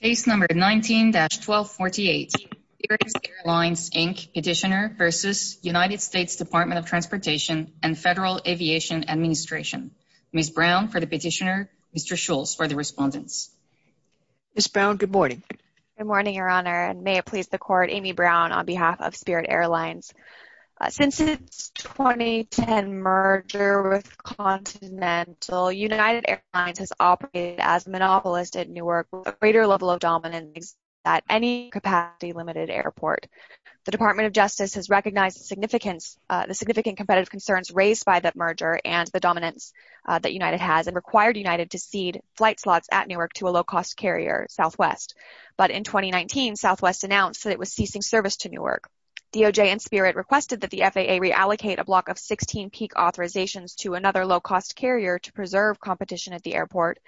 and Federal Aviation Administration. Ms. Brown for the Petitioner, Mr. Schultz for the Respondents. Ms. Brown, good morning. Good morning, Your Honor, and may it please the Court, Amy Brown on behalf of Spirit Airlines. Since its 2010 merger with Continental, United Airlines has operated as monopolist at Newark with a greater level of dominance than any capacity-limited airport. The Department of Justice has recognized the significant competitive concerns raised by the merger and the dominance that United has and required United to cede flight slots at Newark to a low-cost carrier, Southwest. But in 2019, Southwest announced that it was ceasing service to Newark. DOJ and Spirit requested that the FAA reallocate a block of 16 peak authorizations to another low-cost carrier to preserve competition at the airport,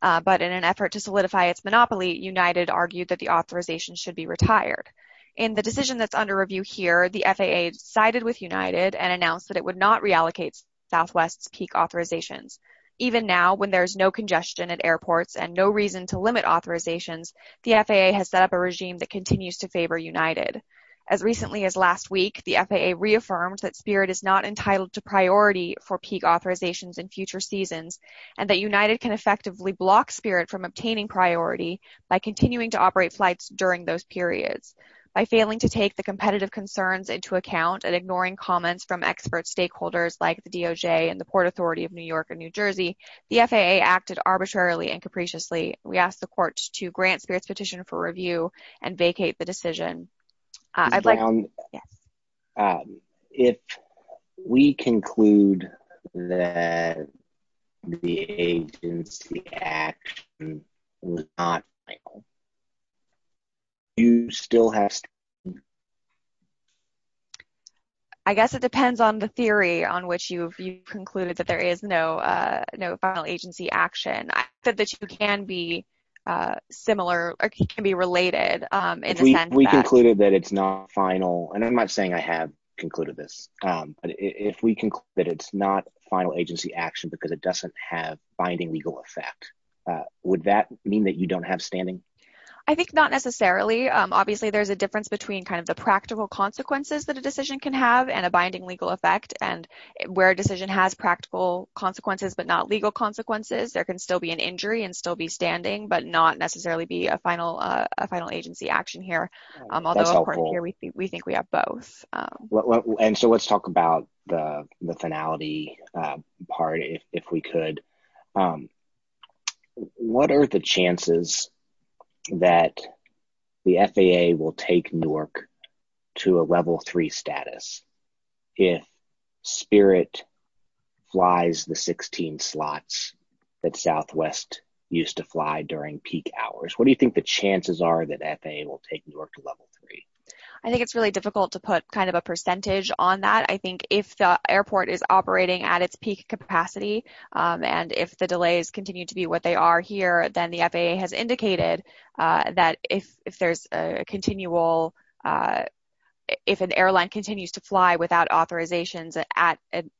but in an effort to solidify its monopoly, United argued that the authorization should be retired. In the decision that's under review here, the FAA sided with United and announced that it would not reallocate Southwest's peak authorizations. Even now, when there is no congestion at airports and no reason to limit authorizations, the FAA has set up a regime that continues to favor United. As recently as last week, the FAA reaffirmed that Spirit is not entitled to priority for peak authorizations in future seasons and that United can effectively block Spirit from obtaining priority by continuing to operate flights during those periods. By failing to take the competitive concerns into account and ignoring comments from expert stakeholders like the DOJ and the Port Authority of New York and New Jersey, the FAA acted arbitrarily and capriciously. We ask the court to grant Spirit's petition for review and vacate the decision. If we conclude that the agency action was not final, do you still have Spirit? I guess it depends on the theory on which you've concluded that there is no final agency action. I said that you can be similar or can be related in a sense. If we conclude that it's not final agency action because it doesn't have binding legal effect, would that mean that you don't have standing? I think not necessarily. Obviously, there's a difference between the practical consequences that a decision can have and a binding legal effect and where a decision has practical consequences but not legal consequences. There can still be an injury and still be standing but not necessarily be a final agency action here. Although here, we think we have both. Let's talk about the finality part if we could. What are the chances that the FAA will take Newark to a level three status if Spirit flies the 16 slots that Southwest used to fly during peak hours? What do you think the chances are that FAA will take Newark to level three? I think it's really difficult to put a percentage on that. I think if the airport is operating at its peak capacity and if the delays continue to be what they are here, then the FAA has indicated that if an airline continues to fly without authorizations at a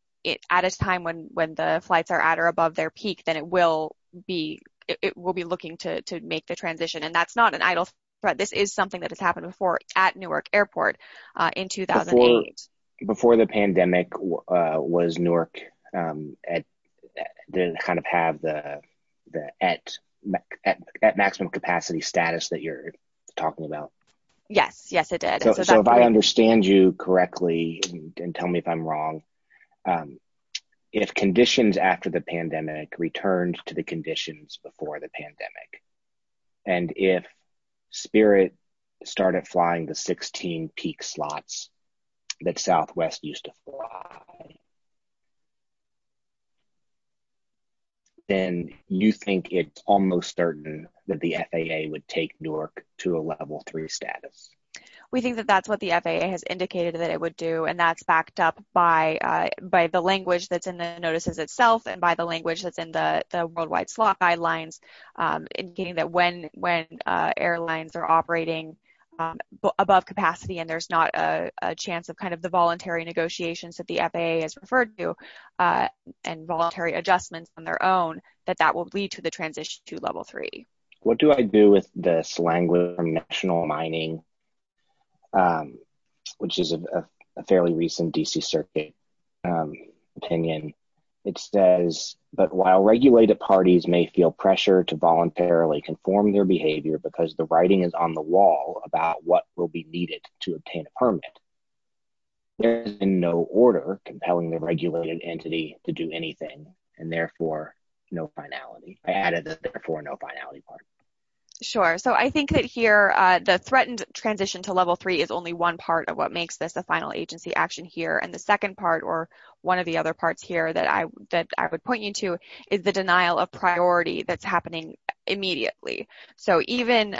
time when the flights are at or above their peak, then it will be looking to make the transition. That's not an idle threat. This is something that has happened before at Newark Airport in 2008. Before the pandemic, did Newark have the at maximum capacity status that you're talking about? Yes, it did. If I understand you correctly and tell me if I'm wrong, if conditions after the pandemic returned to the conditions before the pandemic and if Spirit started flying the 16 peak slots that Southwest used to fly, then you think it's almost certain that the FAA would take Newark to a level three status? We think that that's what the FAA has indicated that it would do and that's backed up by the language that's in the notices itself and by the language that's in the worldwide slot guidelines indicating that when airlines are operating above capacity and there's not a chance of the voluntary negotiations that the FAA has referred to and voluntary adjustments on their own, that that will lead to the transition to level three. What do I do with this language from National Mining, which is a fairly recent DC Circuit opinion? It says, but while regulated parties may feel pressure to voluntarily conform their behavior because the writing is on the wall about what will be needed to obtain a permit, there is in no order compelling the regulated entity to do anything and therefore no finality. I added the therefore no finality part. Sure, so I think that here the threatened transition to level three is only one part of what makes this a final agency action here and the second part or one of the other parts here that I would point you to is the denial of priority that's happening immediately. So, even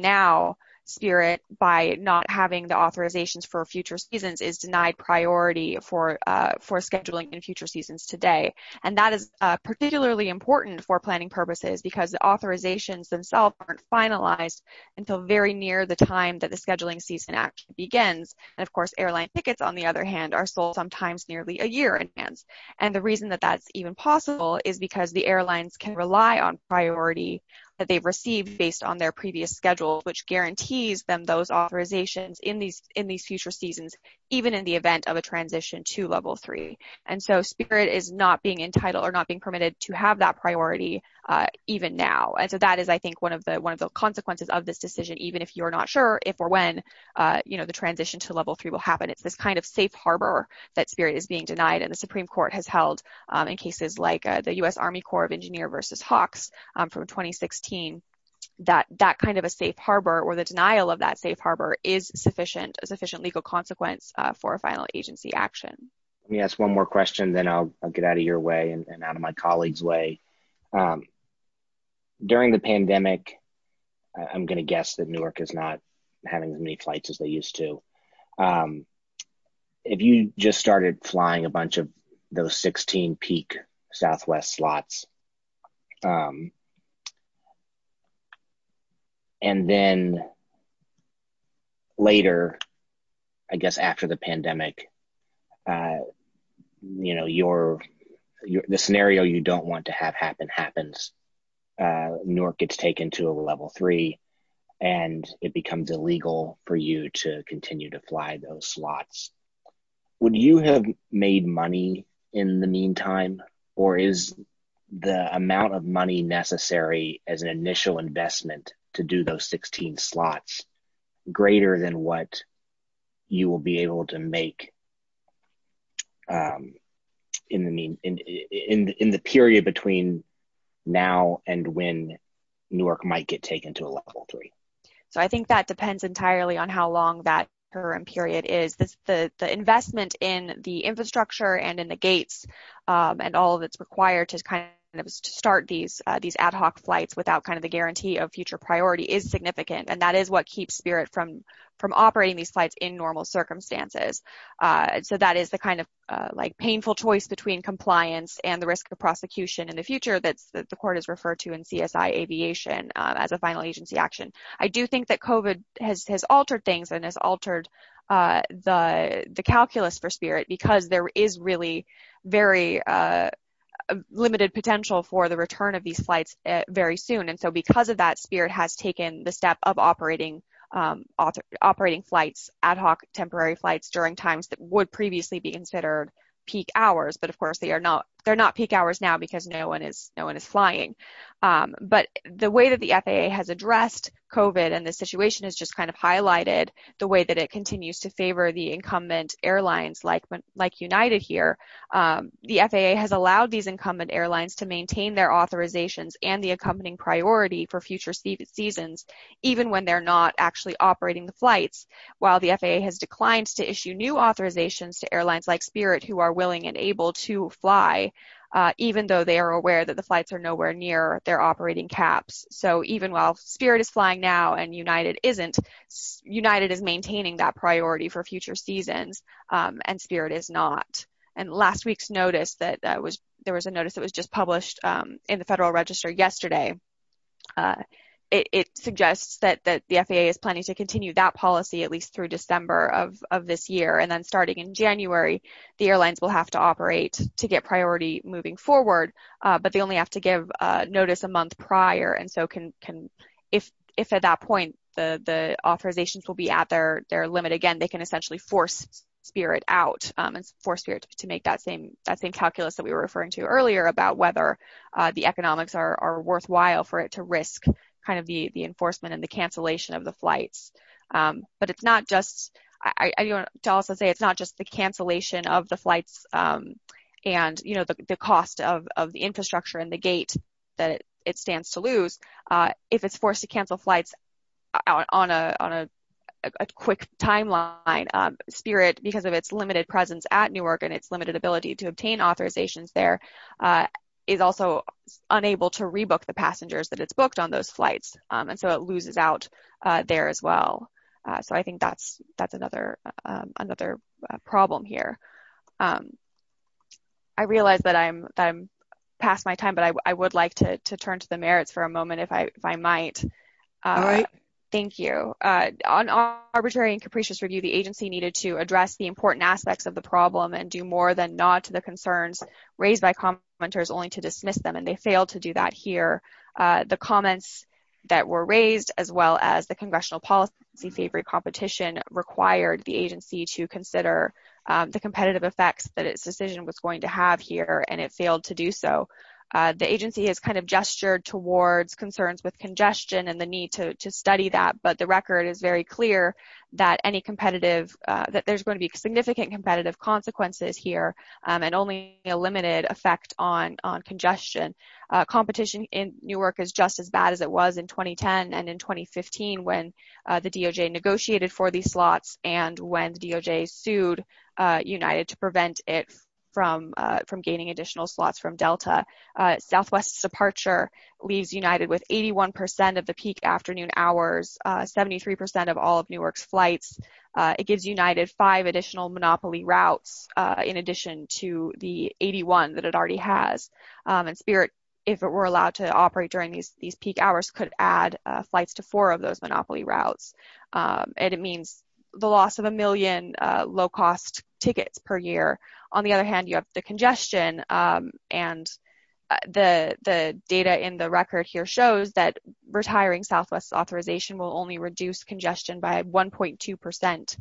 now Spirit by not having the authorizations for future seasons is denied priority for scheduling in future seasons today and that is particularly important for planning purposes because the authorizations themselves aren't finalized until very near the time that the scheduling season actually begins. Of course, airline tickets on the other hand are sold sometimes nearly a year in advance and the reason that that's even possible is because the airlines can rely on priority that they've received based on their previous schedule, which guarantees them those authorizations in these future seasons even in the event of a transition to level three. And so Spirit is not being entitled or not being permitted to have that priority even now and so that is I think one of the consequences of this decision even if you're not sure if or when the transition to level three will happen. It's this kind of safe harbor that Spirit is being denied and the Supreme Court has held in cases like the U.S. Army Corps of Engineers versus Hawks from 2016. That kind of a safe harbor or the denial of that safe sufficient legal consequence for a final agency action. Let me ask one more question then I'll get out of your way and out of my colleague's way. During the pandemic, I'm going to guess that Newark is not having as many flights as they used to. If you just started flying a bunch of those 16 peak southwest slots and then later, I guess after the pandemic, the scenario you don't want to have happen happens. Newark gets taken to a level three and it becomes illegal for you to continue to fly those slots. Would you have made money in the meantime or is the amount of money necessary as an initial investment to do those 16 slots greater than what you will be able to make in the period between now and when Newark might get taken to a level three? I think that depends entirely on how long that period is. The investment in the infrastructure and in the gates and all that's required to start these ad hoc flights without the guarantee of future priority is significant. That is what keeps Spirit from operating these flights in circumstances. That is the painful choice between compliance and the risk of prosecution in the future that the court has referred to in CSI aviation as a final agency action. I do think that COVID has altered things and has altered the calculus for Spirit because there is really very limited potential for the return of these flights very soon. Because of that, Spirit has taken the of operating flights, ad hoc temporary flights during times that would previously be considered peak hours. But of course, they're not peak hours now because no one is flying. But the way that the FAA has addressed COVID and the situation is just kind of highlighted the way that it continues to favor the incumbent airlines like United here. The FAA has allowed these incumbent airlines to maintain their authorizations and the accompanying priority for future seasons, even when they're not actually operating the flights. While the FAA has declined to issue new authorizations to airlines like Spirit who are willing and able to fly, even though they are aware that the flights are nowhere near their operating caps. So even while Spirit is flying now and United isn't, United is maintaining that priority for future seasons and Spirit is not. And last week's notice that there was a notice that was just published in the Federal Register yesterday, it suggests that the FAA is planning to continue that policy at least through December of this year. And then starting in January, the airlines will have to operate to get priority moving forward, but they only have to give notice a month prior. And so if at that point the authorizations will be at their limit again, they can essentially force Spirit out and force Spirit to make that same calculus that we were referring to earlier about whether the economics are worthwhile for it to risk kind of the enforcement and the cancellation of the flights. But it's not just, I don't want to also say it's not just the cancellation of the flights and the cost of the infrastructure and the gate that it stands to lose. If it's forced to cancel flights on a quick timeline, Spirit, because of its limited presence at Newark and its limited ability to obtain authorizations there, is also unable to rebook the passengers that it's booked on those flights. And so it loses out there as well. So I think that's another problem here. I realize that I'm past my time, but I would like to turn to the merits for a moment if I might. Thank you. On arbitrary and capricious review, the agency needed to address the important aspects of the problem and do more than nod to the concerns raised by commenters only to dismiss them, and they failed to do that here. The comments that were raised, as well as the congressional policy favorite competition, required the agency to consider the competitive effects that its decision was going to have here, and it failed to do so. The agency has kind of gestured towards concerns with congestion and the need to study that, but the record is very clear that there's going to be significant competitive consequences here and only a limited effect on congestion. Competition in Newark is just as bad as it was in 2010 and in 2015 when the DOJ negotiated for these slots and when the DOJ sued United to prevent it from gaining additional slots from Delta. Southwest's departure leaves United with 81 percent of the peak afternoon hours, 73 percent of all of Newark's flights. It gives United five additional monopoly routes in addition to the 81 that it already has, and Spirit, if it were allowed to operate during these peak hours, could add flights to four of those monopoly routes, and it means the loss of a million low-cost tickets per year. On the other hand, you have the congestion, and the data in the reduced congestion by 1.2 percent.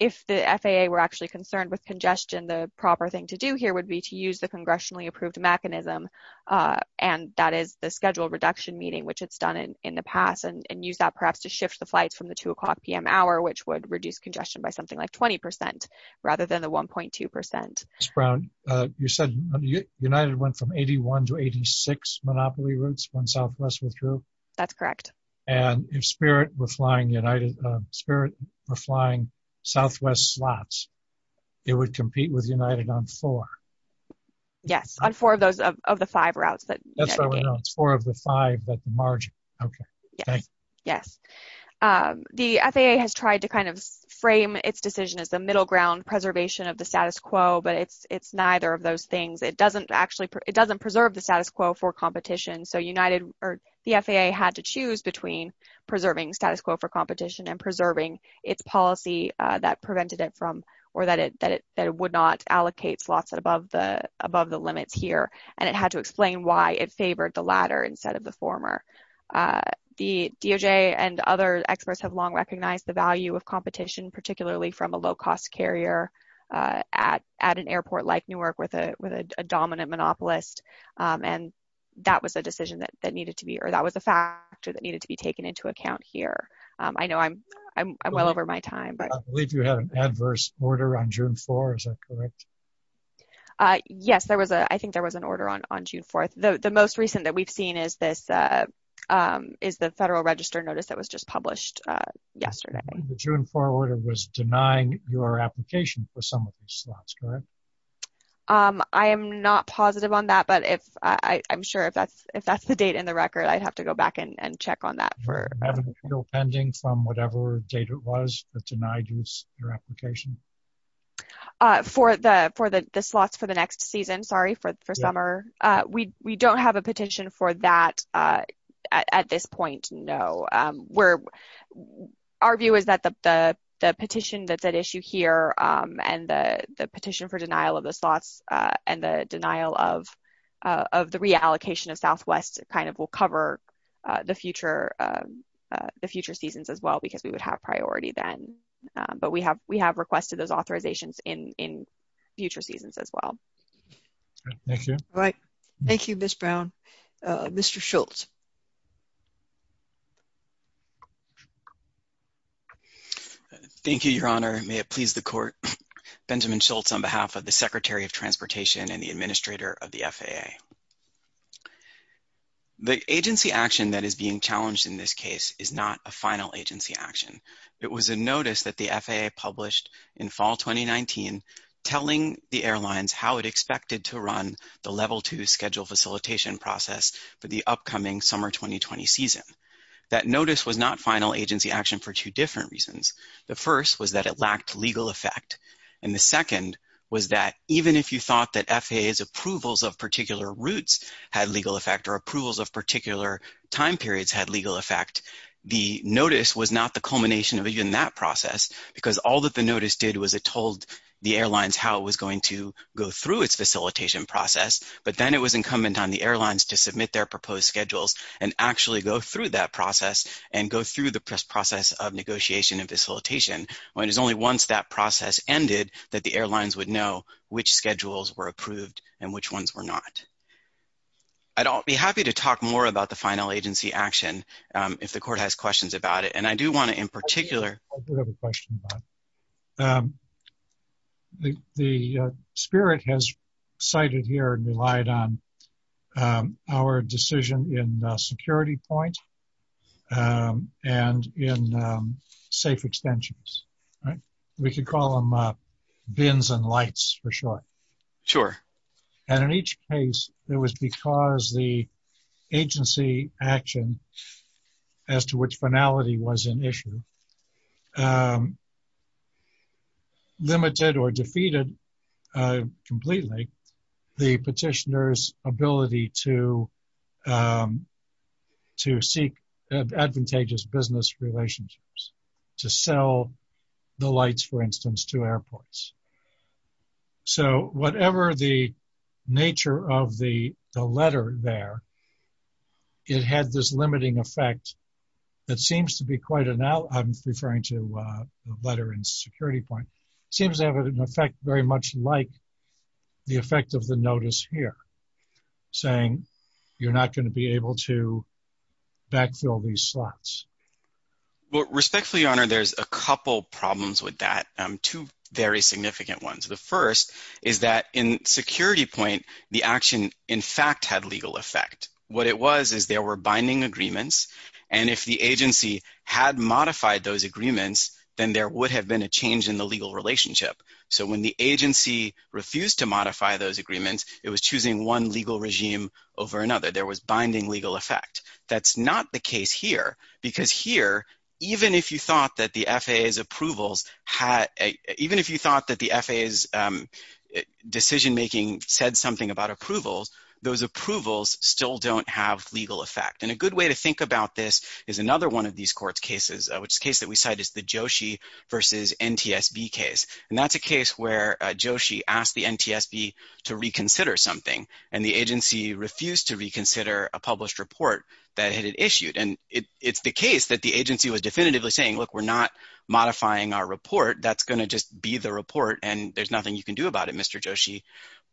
If the FAA were actually concerned with congestion, the proper thing to do here would be to use the congressionally approved mechanism, and that is the scheduled reduction meeting, which it's done in the past, and use that perhaps to shift the flights from the 2 o'clock p.m. hour, which would reduce congestion by something like 20 percent rather than the 1.2 percent. Brown, you said United went from 81 to 86 monopoly routes when Southwest withdrew? That's correct. And if Spirit were flying Southwest slots, it would compete with United on four? Yes, on four of the five routes. That's what we know. It's four of the five at the quo, but it's neither of those things. It doesn't preserve the status quo for competition, so the FAA had to choose between preserving status quo for competition and preserving its policy that prevented it from or that it would not allocate slots above the limits here, and it had to explain why it favored the latter instead of the former. The DOJ and other experts have long recognized the value of competition, particularly from a low-cost carrier at an airport like Newark with a dominant monopolist, and that was a factor that needed to be taken into account here. I know I'm well over my time. I believe you had an adverse order on June 4. Is that correct? Yes, I think there was an order on June 4. The most recent that we've seen is the Federal Register notice that was just published yesterday. The June 4 was denying your application for some of the slots, correct? I am not positive on that, but I'm sure if that's the date in the record, I'd have to go back and check on that. Do you have an appeal pending from whatever date it was that denied your application? For the slots for the next season, sorry, for summer. We don't have a petition for that at this point, no. Our view is that the petition that's at issue here and the petition for denial of the slots and the denial of the reallocation of Southwest will cover the future seasons as well because we would have priority then, but we have requested those authorizations in future seasons as well. Thank you. All right. Thank you, Ms. Brown. Mr. Schultz. Thank you, Your Honor. May it please the court. Benjamin Schultz on behalf of the Secretary of Transportation and the Administrator of the FAA. The agency action that is being challenged in this case is not a final agency action. It was a notice that the FAA published in fall 2019 telling the airlines how it expected to run the level two schedule facilitation process for the upcoming summer 2020 season. That notice was not final agency action for two different reasons. The first was that it lacked legal effect, and the second was that even if you thought that FAA's approvals of particular routes had legal effect or approvals of particular time periods had legal effect, the notice was not the culmination of even that process because all that the notice did was it told the airlines how it was going to go through its facilitation process, but then it was incumbent on the airlines to submit their proposed schedules and actually go through that process and go through the process of negotiation and facilitation. It was only once that process ended that the airlines would know which schedules were approved and which ones were not. I'd be happy to talk more about the final agency action if the court has questions about it, and I do want to in particular... I do have a question, Bob. The spirit has cited here and relied on our decision in security point and in safe extensions. We could call them bins and lights for short. Sure. In each case, it was because the agency action as to which finality was an issue limited or defeated completely the petitioner's ability to seek advantageous business relationships, to sell the lights, for instance, to airports. So, whatever the nature of the letter there, it had this limiting effect that seems to be quite an... I'm referring to the letter in security point. It seems to have an effect very much like the effect of the notice here, saying you're not going to be able to backfill these slots. Well, respectfully, your honor, there's a couple problems with that, two very significant ones. The first is that in security point, the action in fact had legal effect. What it was is there were binding agreements, and if the agency had modified those agreements, then there would have been a change in the legal relationship. So, when the agency refused to modify those agreements, it was choosing one legal regime over another. There was binding legal effect. That's not the case here. Even if you thought that the FAA's decision-making said something about approvals, those approvals still don't have legal effect. A good way to think about this is another one of these court cases, which is the case that we cite as the Joshi versus NTSB case. That's a case where Joshi asked the NTSB to reconsider something, and the agency refused to reconsider a published report that it had issued, and it's the case that the agency was definitively saying, look, we're not modifying our report. That's going to just be the report, and there's nothing you can do about it, Mr. Joshi,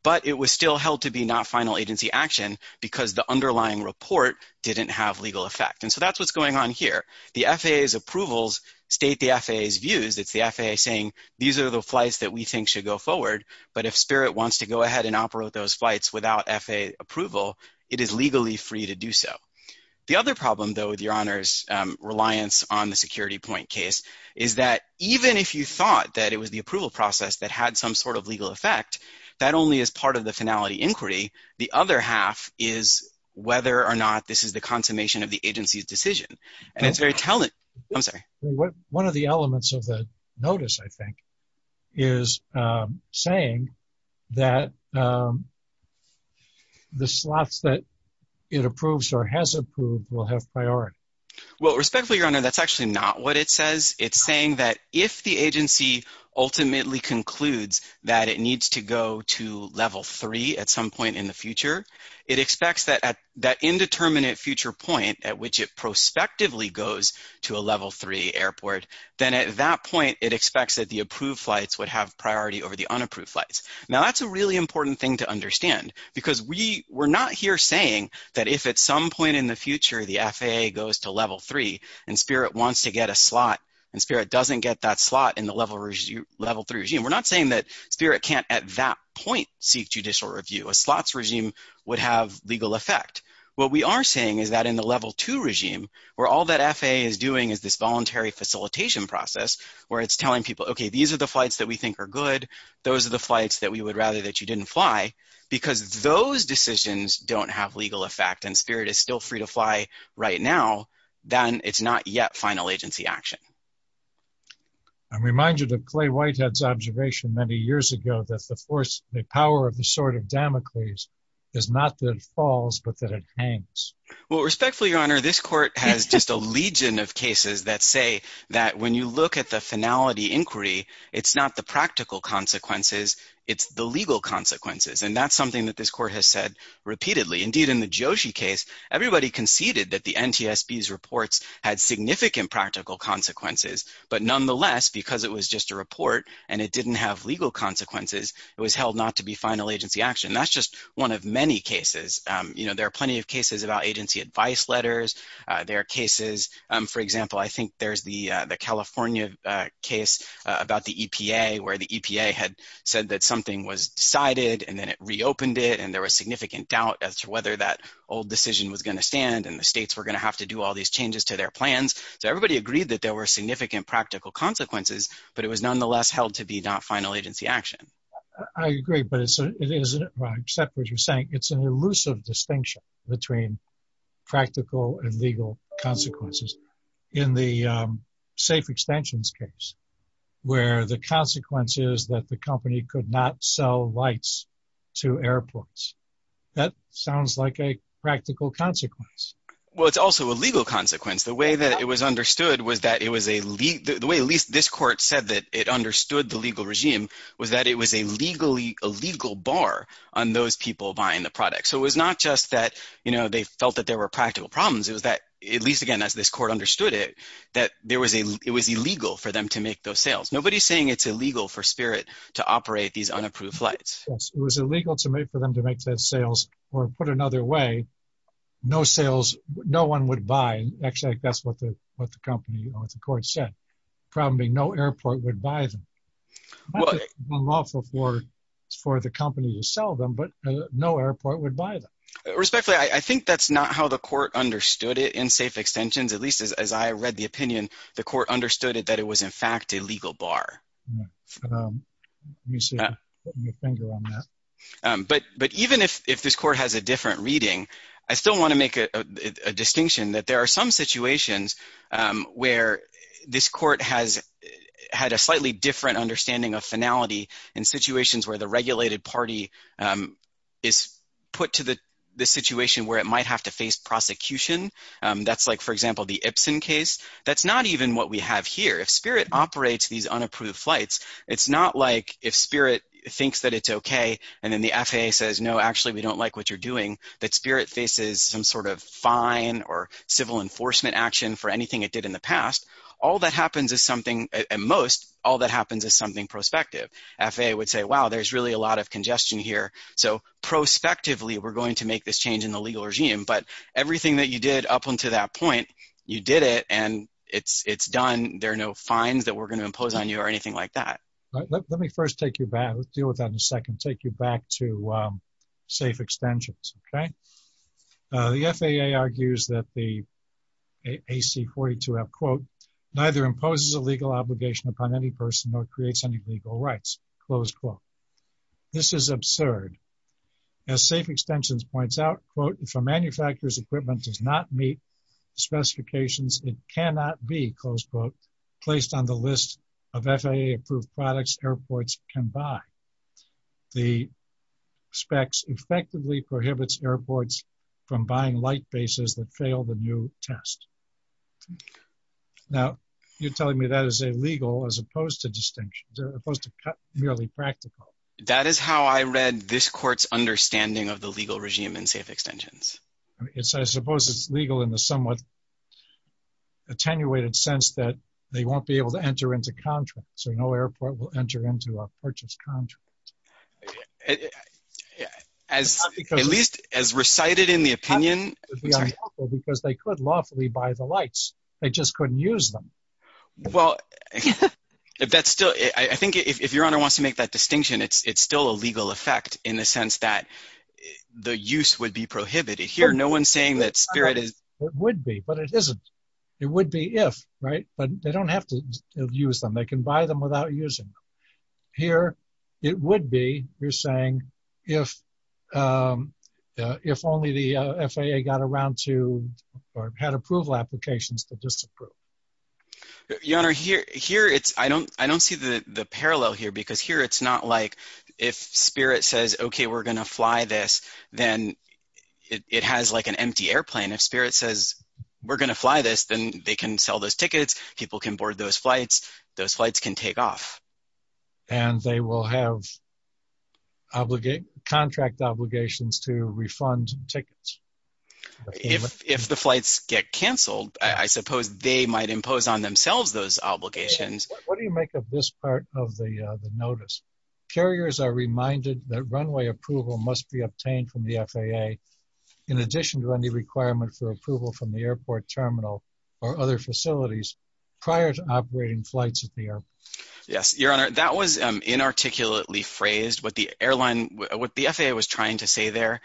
but it was still held to be not final agency action because the underlying report didn't have legal effect, and so that's what's going on here. The FAA's approvals state the FAA's views. It's the FAA saying these are the flights that we think should go forward, but if Spirit wants to go ahead and operate those flights without FAA approval, it is legally free to do so. The other problem, though, with Your Honor's reliance on the security point case is that even if you thought that it was the approval process that had some sort of legal effect, that only is part of the finality inquiry. The other half is whether or not this is the consummation of the agency's decision, and it's very telling. I'm sorry. One of the elements of the notice, I think, is saying that the slots that it approves or has approved will have priority. Well, respectfully, Your Honor, that's actually not what it says. It's saying that if the agency ultimately concludes that it needs to go to level three at some point in the future, it expects that at that indeterminate future point at which it prospectively goes to a level three airport, then at that point it expects that the approved flights would have priority over the unapproved flights. Now, that's a really important thing to understand, because we're not here saying that if at some point in the future the FAA goes to level three and Spirit wants to get a slot and Spirit doesn't get that slot in the level three regime. We're not Spirit can't at that point seek judicial review. A slots regime would have legal effect. What we are saying is that in the level two regime, where all that FAA is doing is this voluntary facilitation process, where it's telling people, okay, these are the flights that we think are good. Those are the flights that we would rather that you didn't fly, because those decisions don't have legal effect and Spirit is still free to fly right now, then it's not yet final agency action. I'm reminded of Clay Whitehead's observation many years ago that the force, the power of the sword of Damocles is not that it falls, but that it hangs. Well, respectfully, Your Honor, this court has just a legion of cases that say that when you look at the finality inquiry, it's not the practical consequences, it's the legal consequences. And that's something that this court has said repeatedly. Indeed, in the Joshi case, everybody conceded that the NTSB's reports had significant practical consequences, but nonetheless, because it was just a report and it didn't have legal consequences, it was held not to be final agency action. That's just one of many cases. There are plenty of cases about agency advice letters. There are cases, for example, I think there's the California case about the EPA, where the EPA had said that something was decided and it reopened it and there was significant doubt as to whether that old decision was going to stand and the states were going to have to do all these changes to their plans. So everybody agreed that there were significant practical consequences, but it was nonetheless held to be not final agency action. I agree, but it isn't, except as you're saying, it's an elusive distinction between practical and legal consequences. In the Safe Extensions case, where the consequence is that company could not sell lights to airports. That sounds like a practical consequence. Well, it's also a legal consequence. The way that it was understood was that it was a legal, the way at least this court said that it understood the legal regime was that it was a legally, a legal bar on those people buying the product. So it was not just that, you know, they felt that there were practical problems. It was that, at least again, as this court understood it, that there was a, it was illegal for them to make those sales. Nobody's saying it's illegal for Spirit to operate these unapproved lights. Yes, it was illegal to make, for them to make that sales or put another way, no sales, no one would buy. Actually, that's what the, what the company or the court said, probably no airport would buy them. Unlawful for the company to sell them, but no airport would buy them. Respectfully, I think that's not how the court understood it in Safe Extensions, at least as I read the opinion, the court understood it, that it was in fact a legal bar. You see, putting your finger on that. But, but even if, if this court has a different reading, I still want to make a distinction that there are some situations where this court has had a slightly different understanding of finality in situations where the regulated party is put to the situation where it might have to face prosecution. That's like, for example, the Ipsen case. That's not even what we have here. If Spirit operates these unapproved flights, it's not like if Spirit thinks that it's okay and then the FAA says, no, actually, we don't like what you're doing, that Spirit faces some sort of fine or civil enforcement action for anything it did in the past. All that happens is something, at most, all that happens is something prospective. FAA would say, wow, there's really a lot of congestion here. So prospectively, we're going to make this change in the legal regime, but everything that you did up until that point, you did it and it's, it's done. There are no fines that we're going to impose on you or anything like that. Let me first take you back. Let's deal with that in a second. Take you back to safe extensions. Okay. The FAA argues that the AC 42F quote, neither imposes a legal obligation upon any person nor creates any legal rights. Close quote. This is absurd. As safe extensions points out, quote, if a manufacturer's equipment does not meet specifications, it cannot be close quote, placed on the list of FAA approved products, airports can buy. The specs effectively prohibits airports from buying light bases that fail the new test. Now you're telling me that as a legal, as opposed to distinction, as opposed to merely practical. That is how I read this court's understanding of the legal regime and safe extensions. I suppose it's legal in the somewhat attenuated sense that they won't be able to enter into contracts or no airport will enter into a purchase contract. At least as recited in the opinion. Because they could lawfully buy the lights. They just couldn't use them. Well, if that's still, I think if your honor wants to make that distinction, it's still a legal effect in the sense that the use would be prohibited here. No one's saying that spirit is. It would be, but it isn't. It would be if right, but they don't have to use them. They can buy them without using them here. It would be you're saying if, if only the FAA got around to, or had approval applications to disapprove your honor here, here it's, I don't, I don't see the, the parallel here because here it's not like if spirit says, okay, we're going to fly this, then it has like an empty airplane. If spirit says we're going to fly this, then they can sell those tickets. People can board those flights. Those flights can take off and they will have obligate contract obligations to refund tickets. If the flights get canceled, I suppose they might impose on themselves those obligations. What do you make of this part of the, the notice carriers are reminded that runway approval must be obtained from the FAA. In addition to any requirement for approval from the airport terminal or other facilities prior to operating flights at the airport. Yes, your honor. That was inarticulately phrased, but the airline, what the FAA was trying to say there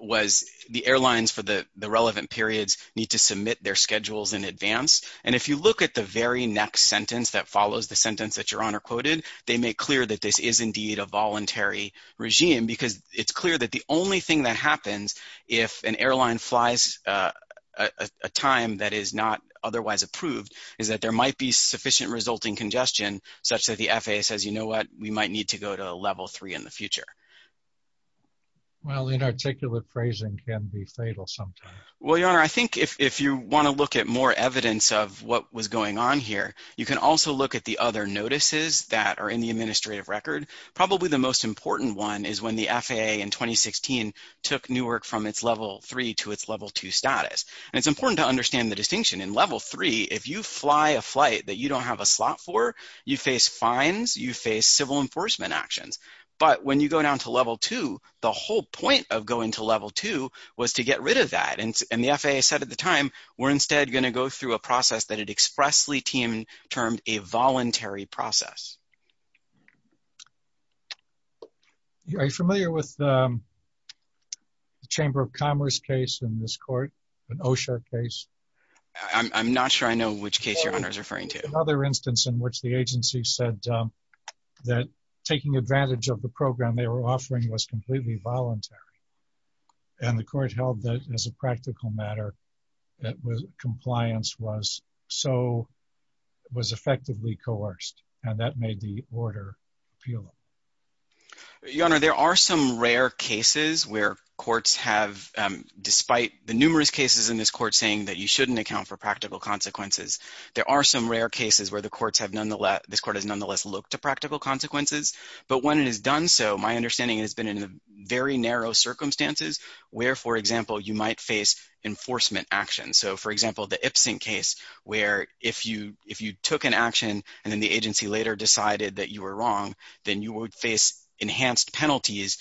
was the airlines for the relevant periods need to submit their schedules in advance. And if you look at the very next sentence that follows the sentence that your honor quoted, they make clear that this is indeed a voluntary regime because it's clear that the only thing that happens if an airline flies a time that is not otherwise approved is that there might be such that the FAA says, you know what, we might need to go to a level three in the future. Well, inarticulate phrasing can be fatal sometimes. Well, your honor, I think if you want to look at more evidence of what was going on here, you can also look at the other notices that are in the administrative record. Probably the most important one is when the FAA in 2016 took Newark from its level three to its level two status. And it's important to understand the distinction in level three. If you fly a you face fines, you face civil enforcement actions. But when you go down to level two, the whole point of going to level two was to get rid of that. And the FAA said at the time, we're instead going to go through a process that it expressly team termed a voluntary process. Are you familiar with the chamber of commerce case in this court, an OSHA case? I'm not sure I know which case your honor is referring to. Another instance in which the agency said that taking advantage of the program they were offering was completely voluntary. And the court held that as a practical matter, that was compliance was so was effectively coerced. And that made the order appeal. Your honor, there are some rare cases where courts have, despite the numerous cases in this court saying that you shouldn't account for practical consequences. There are some rare cases where the courts have nonetheless, this court has nonetheless looked to practical consequences. But when it is done, so my understanding has been in very narrow circumstances, where, for example, you might face enforcement action. So for example, the Ipsen case, where if you if you took an action, and then the agency later decided that you were wrong, then you would face enhanced penalties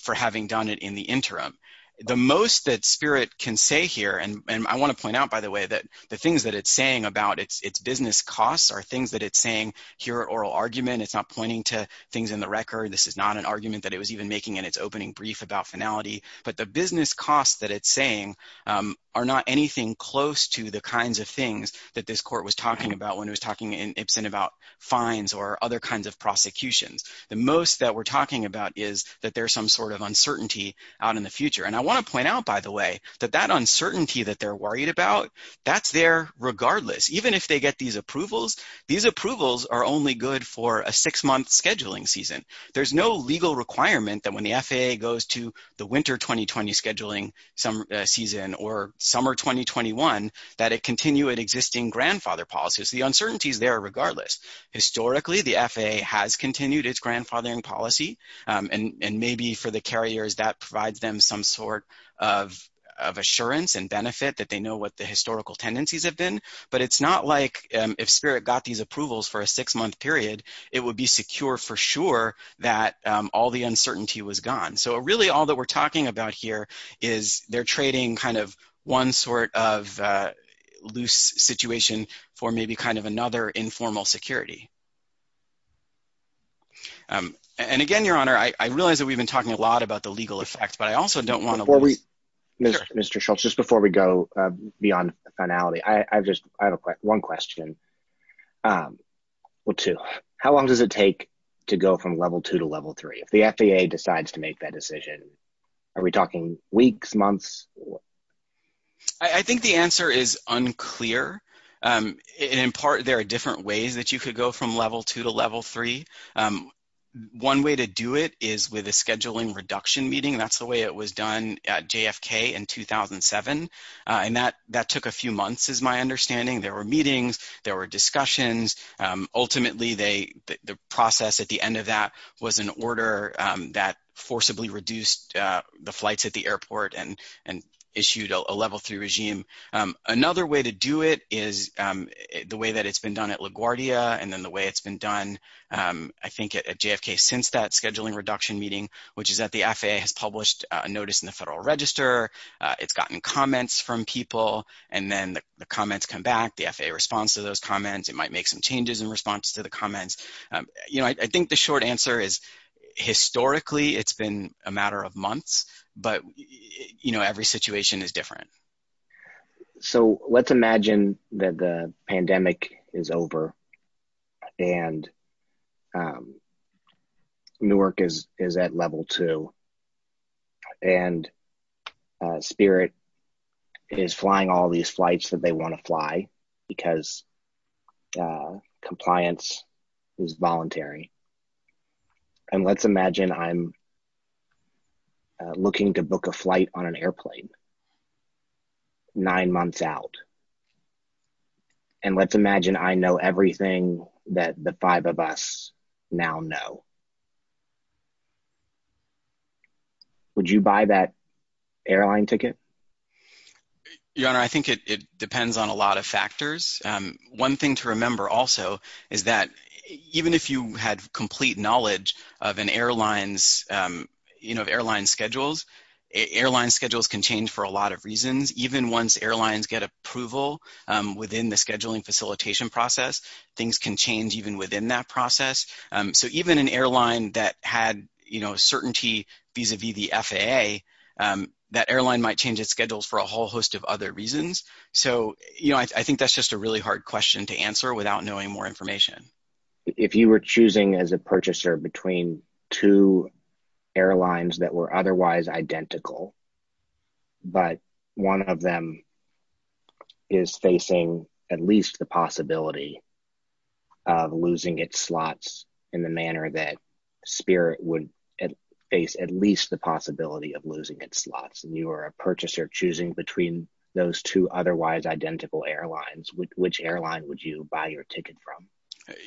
for having done it in the interim. The most that spirit can say here, and I want to point out, by the way, that the things that it's saying about its business costs are things that it's saying here oral argument, it's not pointing to things in the record. This is not an argument that it was even making in its opening brief about finality. But the business costs that it's saying are not anything close to the kinds of things that this court was talking about when it was talking in Ipsen about fines or other kinds of prosecutions. The most that we're talking about is that there's some sort of uncertainty out in the future. And I that they're worried about, that's their regardless, even if they get these approvals, these approvals are only good for a six month scheduling season. There's no legal requirement that when the FAA goes to the winter 2020 scheduling, some season or summer 2021, that it continued existing grandfather policies, the uncertainties there regardless. Historically, the FAA has continued its grandfathering policy. And maybe for the carriers that provides them some of assurance and benefit that they know what the historical tendencies have been. But it's not like if Spirit got these approvals for a six month period, it would be secure for sure that all the uncertainty was gone. So really all that we're talking about here is they're trading kind of one sort of loose situation for maybe kind of another informal security. And again, Your Honor, I realize that we've been talking a lot about the Mr. Schultz, just before we go beyond finality, I just have one question. Well, two, how long does it take to go from level two to level three, if the FDA decides to make that decision? Are we talking weeks, months? I think the answer is unclear. In part, there are different ways that you could go from level two to level three. One way to do it is with a scheduling reduction meeting. That's the way it was done at JFK in 2007. And that took a few months, is my understanding. There were meetings, there were discussions. Ultimately, the process at the end of that was an order that forcibly reduced the flights at the airport and issued a level three regime. Another way to do it is the way that it's been done at LaGuardia, and then the way it's been done, I think, at JFK since that scheduling reduction meeting, which is that the FAA has published a notice in the Federal Register, it's gotten comments from people, and then the comments come back, the FAA responds to those comments, it might make some changes in response to the comments. I think the short answer is, historically, it's been a matter of months, but every situation is Newark is at level two. And Spirit is flying all these flights that they want to fly, because compliance is voluntary. And let's imagine I'm looking to book a flight on an airplane nine months out. And let's imagine I know everything that the five of us now know. Would you buy that airline ticket? Your Honor, I think it depends on a lot of factors. One thing to remember also is that even if you had complete knowledge of an airline's, you know, airline schedules, airline schedules can change for a lot of reasons. Even once airlines get approval within the scheduling facilitation process, things can change even within that process. So even an airline that had, you know, certainty vis-a-vis the FAA, that airline might change its schedules for a whole host of other reasons. So, you know, I think that's just a really hard question to answer without knowing more information. If you were choosing as a purchaser between two airlines that were otherwise identical, but one of them is facing at least the possibility of losing its slots in the manner that Spirit would face at least the possibility of losing its slots, and you were a purchaser choosing between those two otherwise identical airlines, which airline would you buy your ticket from?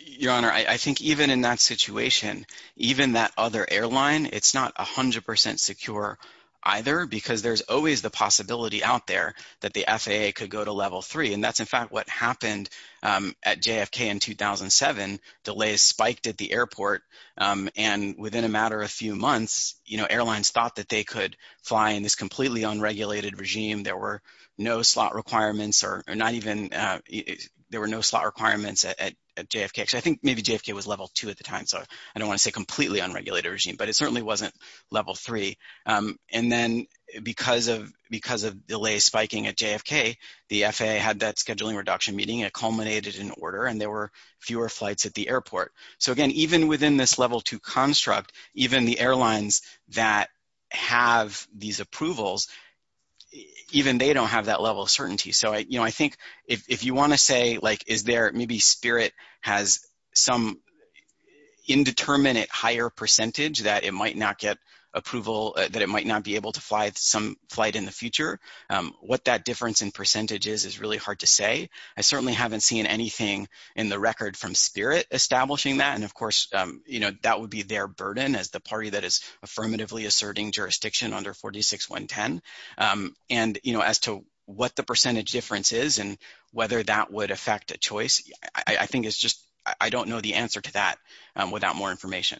Your Honor, I think even in that situation, even that other airline, it's not 100% secure either, because there's always the possibility out there that the FAA could go to level three, and that's in fact what happened at JFK in 2007. Delays spiked at the airport, and within a matter of a few months, you know, airlines thought that they could fly in this completely unregulated regime. There were no slot requirements or not even, there were no slot requirements at JFK. I think maybe JFK was level two at the time, so I don't want to say completely unregulated regime, but it certainly wasn't level three, and then because of delays spiking at JFK, the FAA had that scheduling reduction meeting. It culminated in order, and there were fewer flights at the airport, so again, even within this level two construct, even the airlines that have these approvals, even they don't have that level of certainty, so I think if you want to say like is there, maybe Spirit has some indeterminate higher percentage that it might not get approval, that it might not be able to fly some flight in the future, what that difference in percentage is is really hard to say. I certainly haven't seen anything in the record from Spirit establishing that, and of course, you know, that would be their burden as the party that is affirmatively asserting jurisdiction under 46.110, and you know, as to what the percentage difference is and whether that would affect a choice, I think it's just, I don't know the answer to that without more information,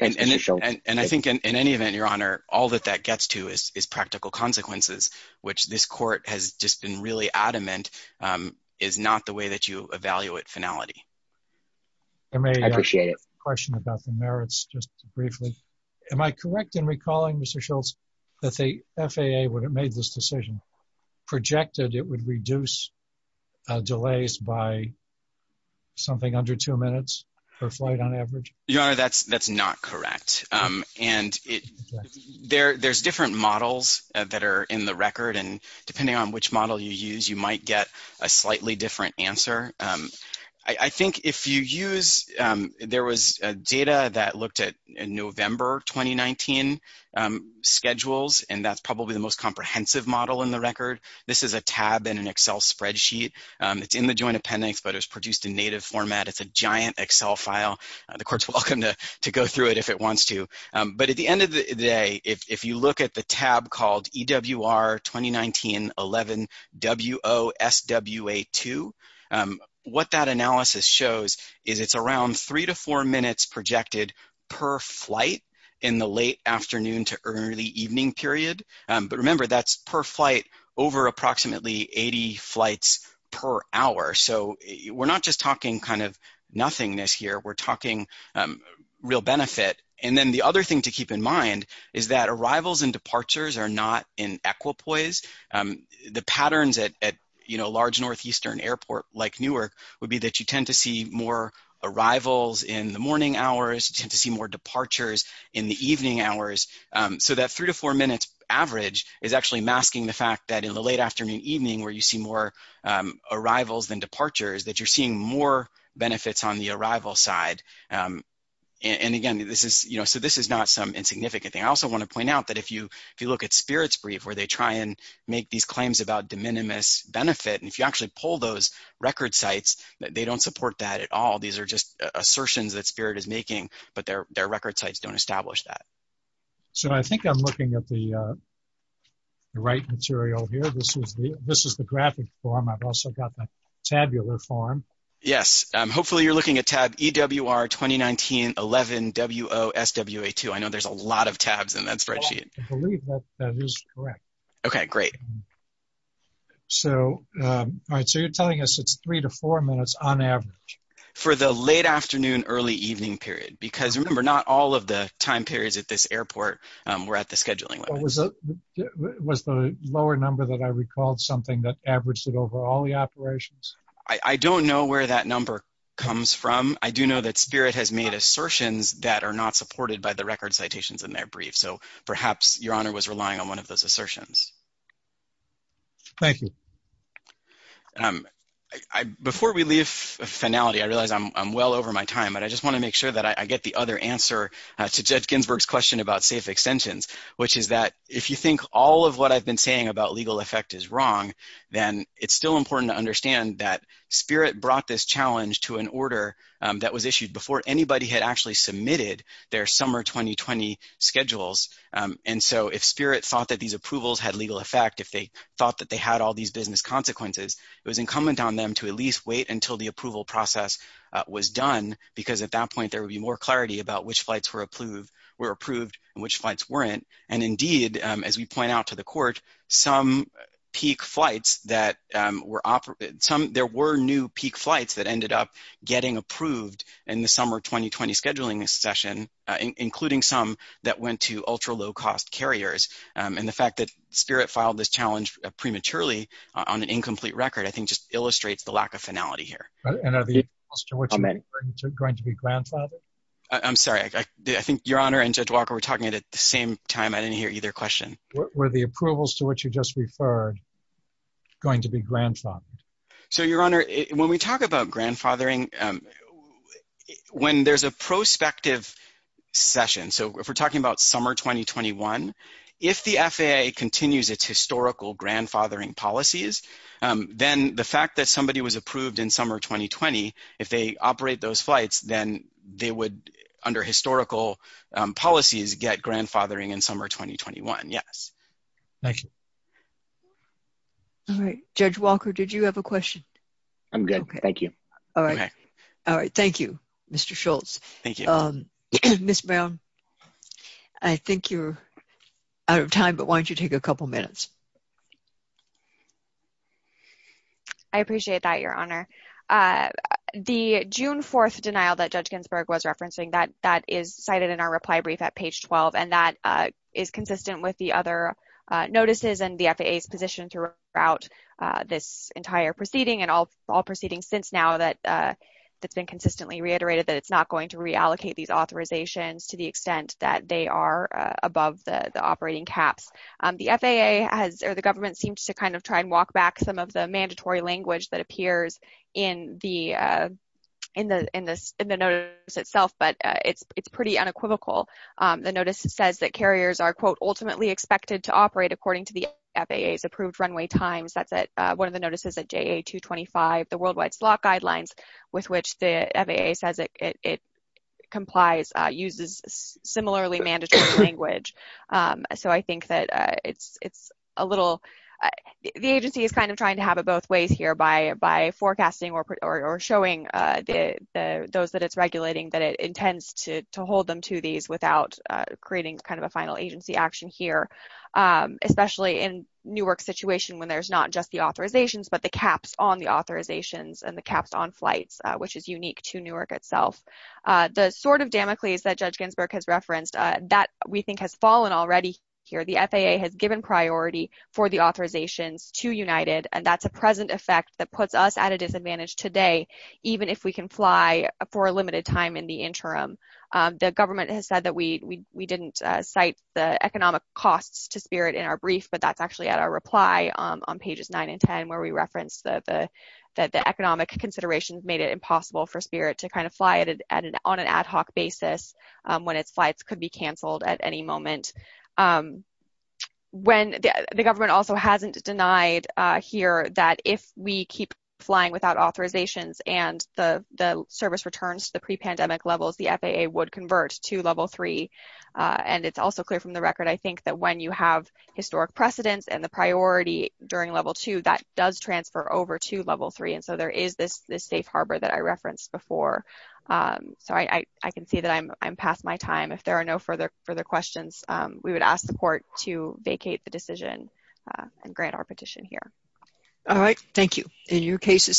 and I think in any event, your honor, all that that gets to is practical consequences, which this court has just been really adamant is not the way that you evaluate finality. I may have a question about the merits just briefly. Am I correct in recalling, that the FAA, when it made this decision, projected it would reduce delays by something under two minutes per flight on average? Your honor, that's not correct, and there's different models that are in the record, and depending on which model you use, you might get a slightly different answer. I think if you use, there was data that looked at November 2019 schedules, and that's probably the most comprehensive model in the record. This is a tab in an Excel spreadsheet. It's in the joint appendix, but it's produced in native format. It's a giant Excel file. The court's welcome to go through it if it wants to, but at the end of the day, if you look at the tab called EWR 2019-11-WOSWA2, what that analysis shows is it's around three to four minutes projected per flight in the late afternoon to early evening period, but remember that's per flight over approximately 80 flights per hour, so we're not just talking kind of nothingness here. We're talking real benefit, and then the other thing to keep in mind is that arrivals and departures are not in equipoise. The patterns at a large northeastern airport like Newark would be that you tend to see more arrivals in the morning hours. You tend to see more departures in the evening hours, so that three to four minutes average is actually masking the fact that in the late afternoon evening where you see more arrivals than departures, that you're seeing more benefits on the arrival side, and again, this is, you know, so this is not some insignificant thing. I also want to point out that if you look at Spirit's brief where they try and make these claims about de minimis benefit, and if you actually pull those record sites, they don't support that at all. These are just assertions that Spirit is making, but their record sites don't establish that, so I think I'm looking at the right material here. This is the graphic form. I've also got the tabular form. Yes, hopefully you're looking at tab EWR 2019-11-WOSWA2. I know there's a lot of tabs in that spreadsheet. I believe that that is correct. Okay, great. So, all right, so you're telling us it's three to four minutes on average. For the late afternoon, early evening period, because remember not all of the time periods at this airport were at the scheduling level. Was the lower number that I recalled something that averaged it over all the operations? I don't know where that number comes from. I do know that Spirit has made assertions that are not supported by the record citations in their brief, so perhaps your honor was relying on one of those assertions. Thank you. Before we leave finality, I realize I'm well over my time, but I just want to make sure that I get the other answer to Judge Ginsburg's question about safe extensions, which is that if you think all of what I've been saying about legal effect is wrong, then it's still important to understand that Spirit brought this challenge to an order that was issued before anybody had actually submitted their summer 2020 schedules. And so if Spirit thought that these approvals had legal effect, if they thought that they had all these business consequences, it was incumbent on them to at least wait until the approval process was done, because at that point there would be more clarity about which flights were approved and which flights weren't. And indeed, as we point out to the court, some peak flights that were there were new peak flights that ended up getting approved in the summer 2020 scheduling session, including some that went to ultra low cost carriers. And the fact that Spirit filed this challenge prematurely on an incomplete record, I think just illustrates the lack of finality here. And are the approvals to which you just referred going to be grandfathered? I'm sorry, I think your honor and Judge Walker were talking at the same time, I didn't hear either question. Were the approvals to which you just referred going to be grandfathered? So your honor, when we talk about grandfathering, when there's a prospective session, so if we're talking about summer 2021, if the FAA continues its historical grandfathering policies, then the fact that somebody was approved in summer 2020, if they operate those flights, then they would, under historical policies, get grandfathering in summer 2021. Yes. Thank you. All right, Judge Walker, did you have a question? I'm good. Thank you. All right. All right. Thank you, Mr. Schultz. Thank you. Ms. Brown, I think you're out of time, but why don't you take a couple minutes? I appreciate that, your honor. The June 4th denial that Judge Ginsburg was referencing, that is cited in our reply brief at page 12, and that is consistent with the other notices and the FAA's position throughout this entire proceeding and all proceedings since now that's been consistently reiterated that it's not going to reallocate these authorizations to the extent that they are above the operating caps. The FAA or the government seems to kind of try and walk some of the mandatory language that appears in the notice itself, but it's pretty unequivocal. The notice says that carriers are, quote, ultimately expected to operate according to the FAA's approved runway times. That's one of the notices at JA 225, the worldwide slot guidelines with which the FAA says it complies, uses similarly mandatory language. So, I think that it's a little, the agency is kind of trying to have it both ways here by forecasting or showing those that it's regulating that it intends to hold them to these without creating kind of a final agency action here, especially in Newark's situation when there's not just the authorizations, but the caps on the authorizations and the caps on flights, which is unique to Newark itself. The sort of Damocles that Judge Ginsburg has referenced, that we think has fallen already here. The FAA has given priority for the authorizations to United, and that's a present effect that puts us at a disadvantage today, even if we can fly for a limited time in the interim. The government has said that we didn't cite the economic costs to Spirit in our brief, but that's actually at our reply on pages 9 and 10 where we referenced that the economic considerations made it impossible for Spirit to kind of fly on an at any moment. The government also hasn't denied here that if we keep flying without authorizations and the service returns to the pre-pandemic levels, the FAA would convert to Level 3. And it's also clear from the record, I think, that when you have historic precedents and the priority during Level 2, that does transfer over to Level 3. And so, there is this safe harbor that I referenced before. Sorry, I can see that I'm past my time. If there are no further questions, we would ask the court to vacate the decision and grant our petition here. All right. Thank you. And your case is submitted.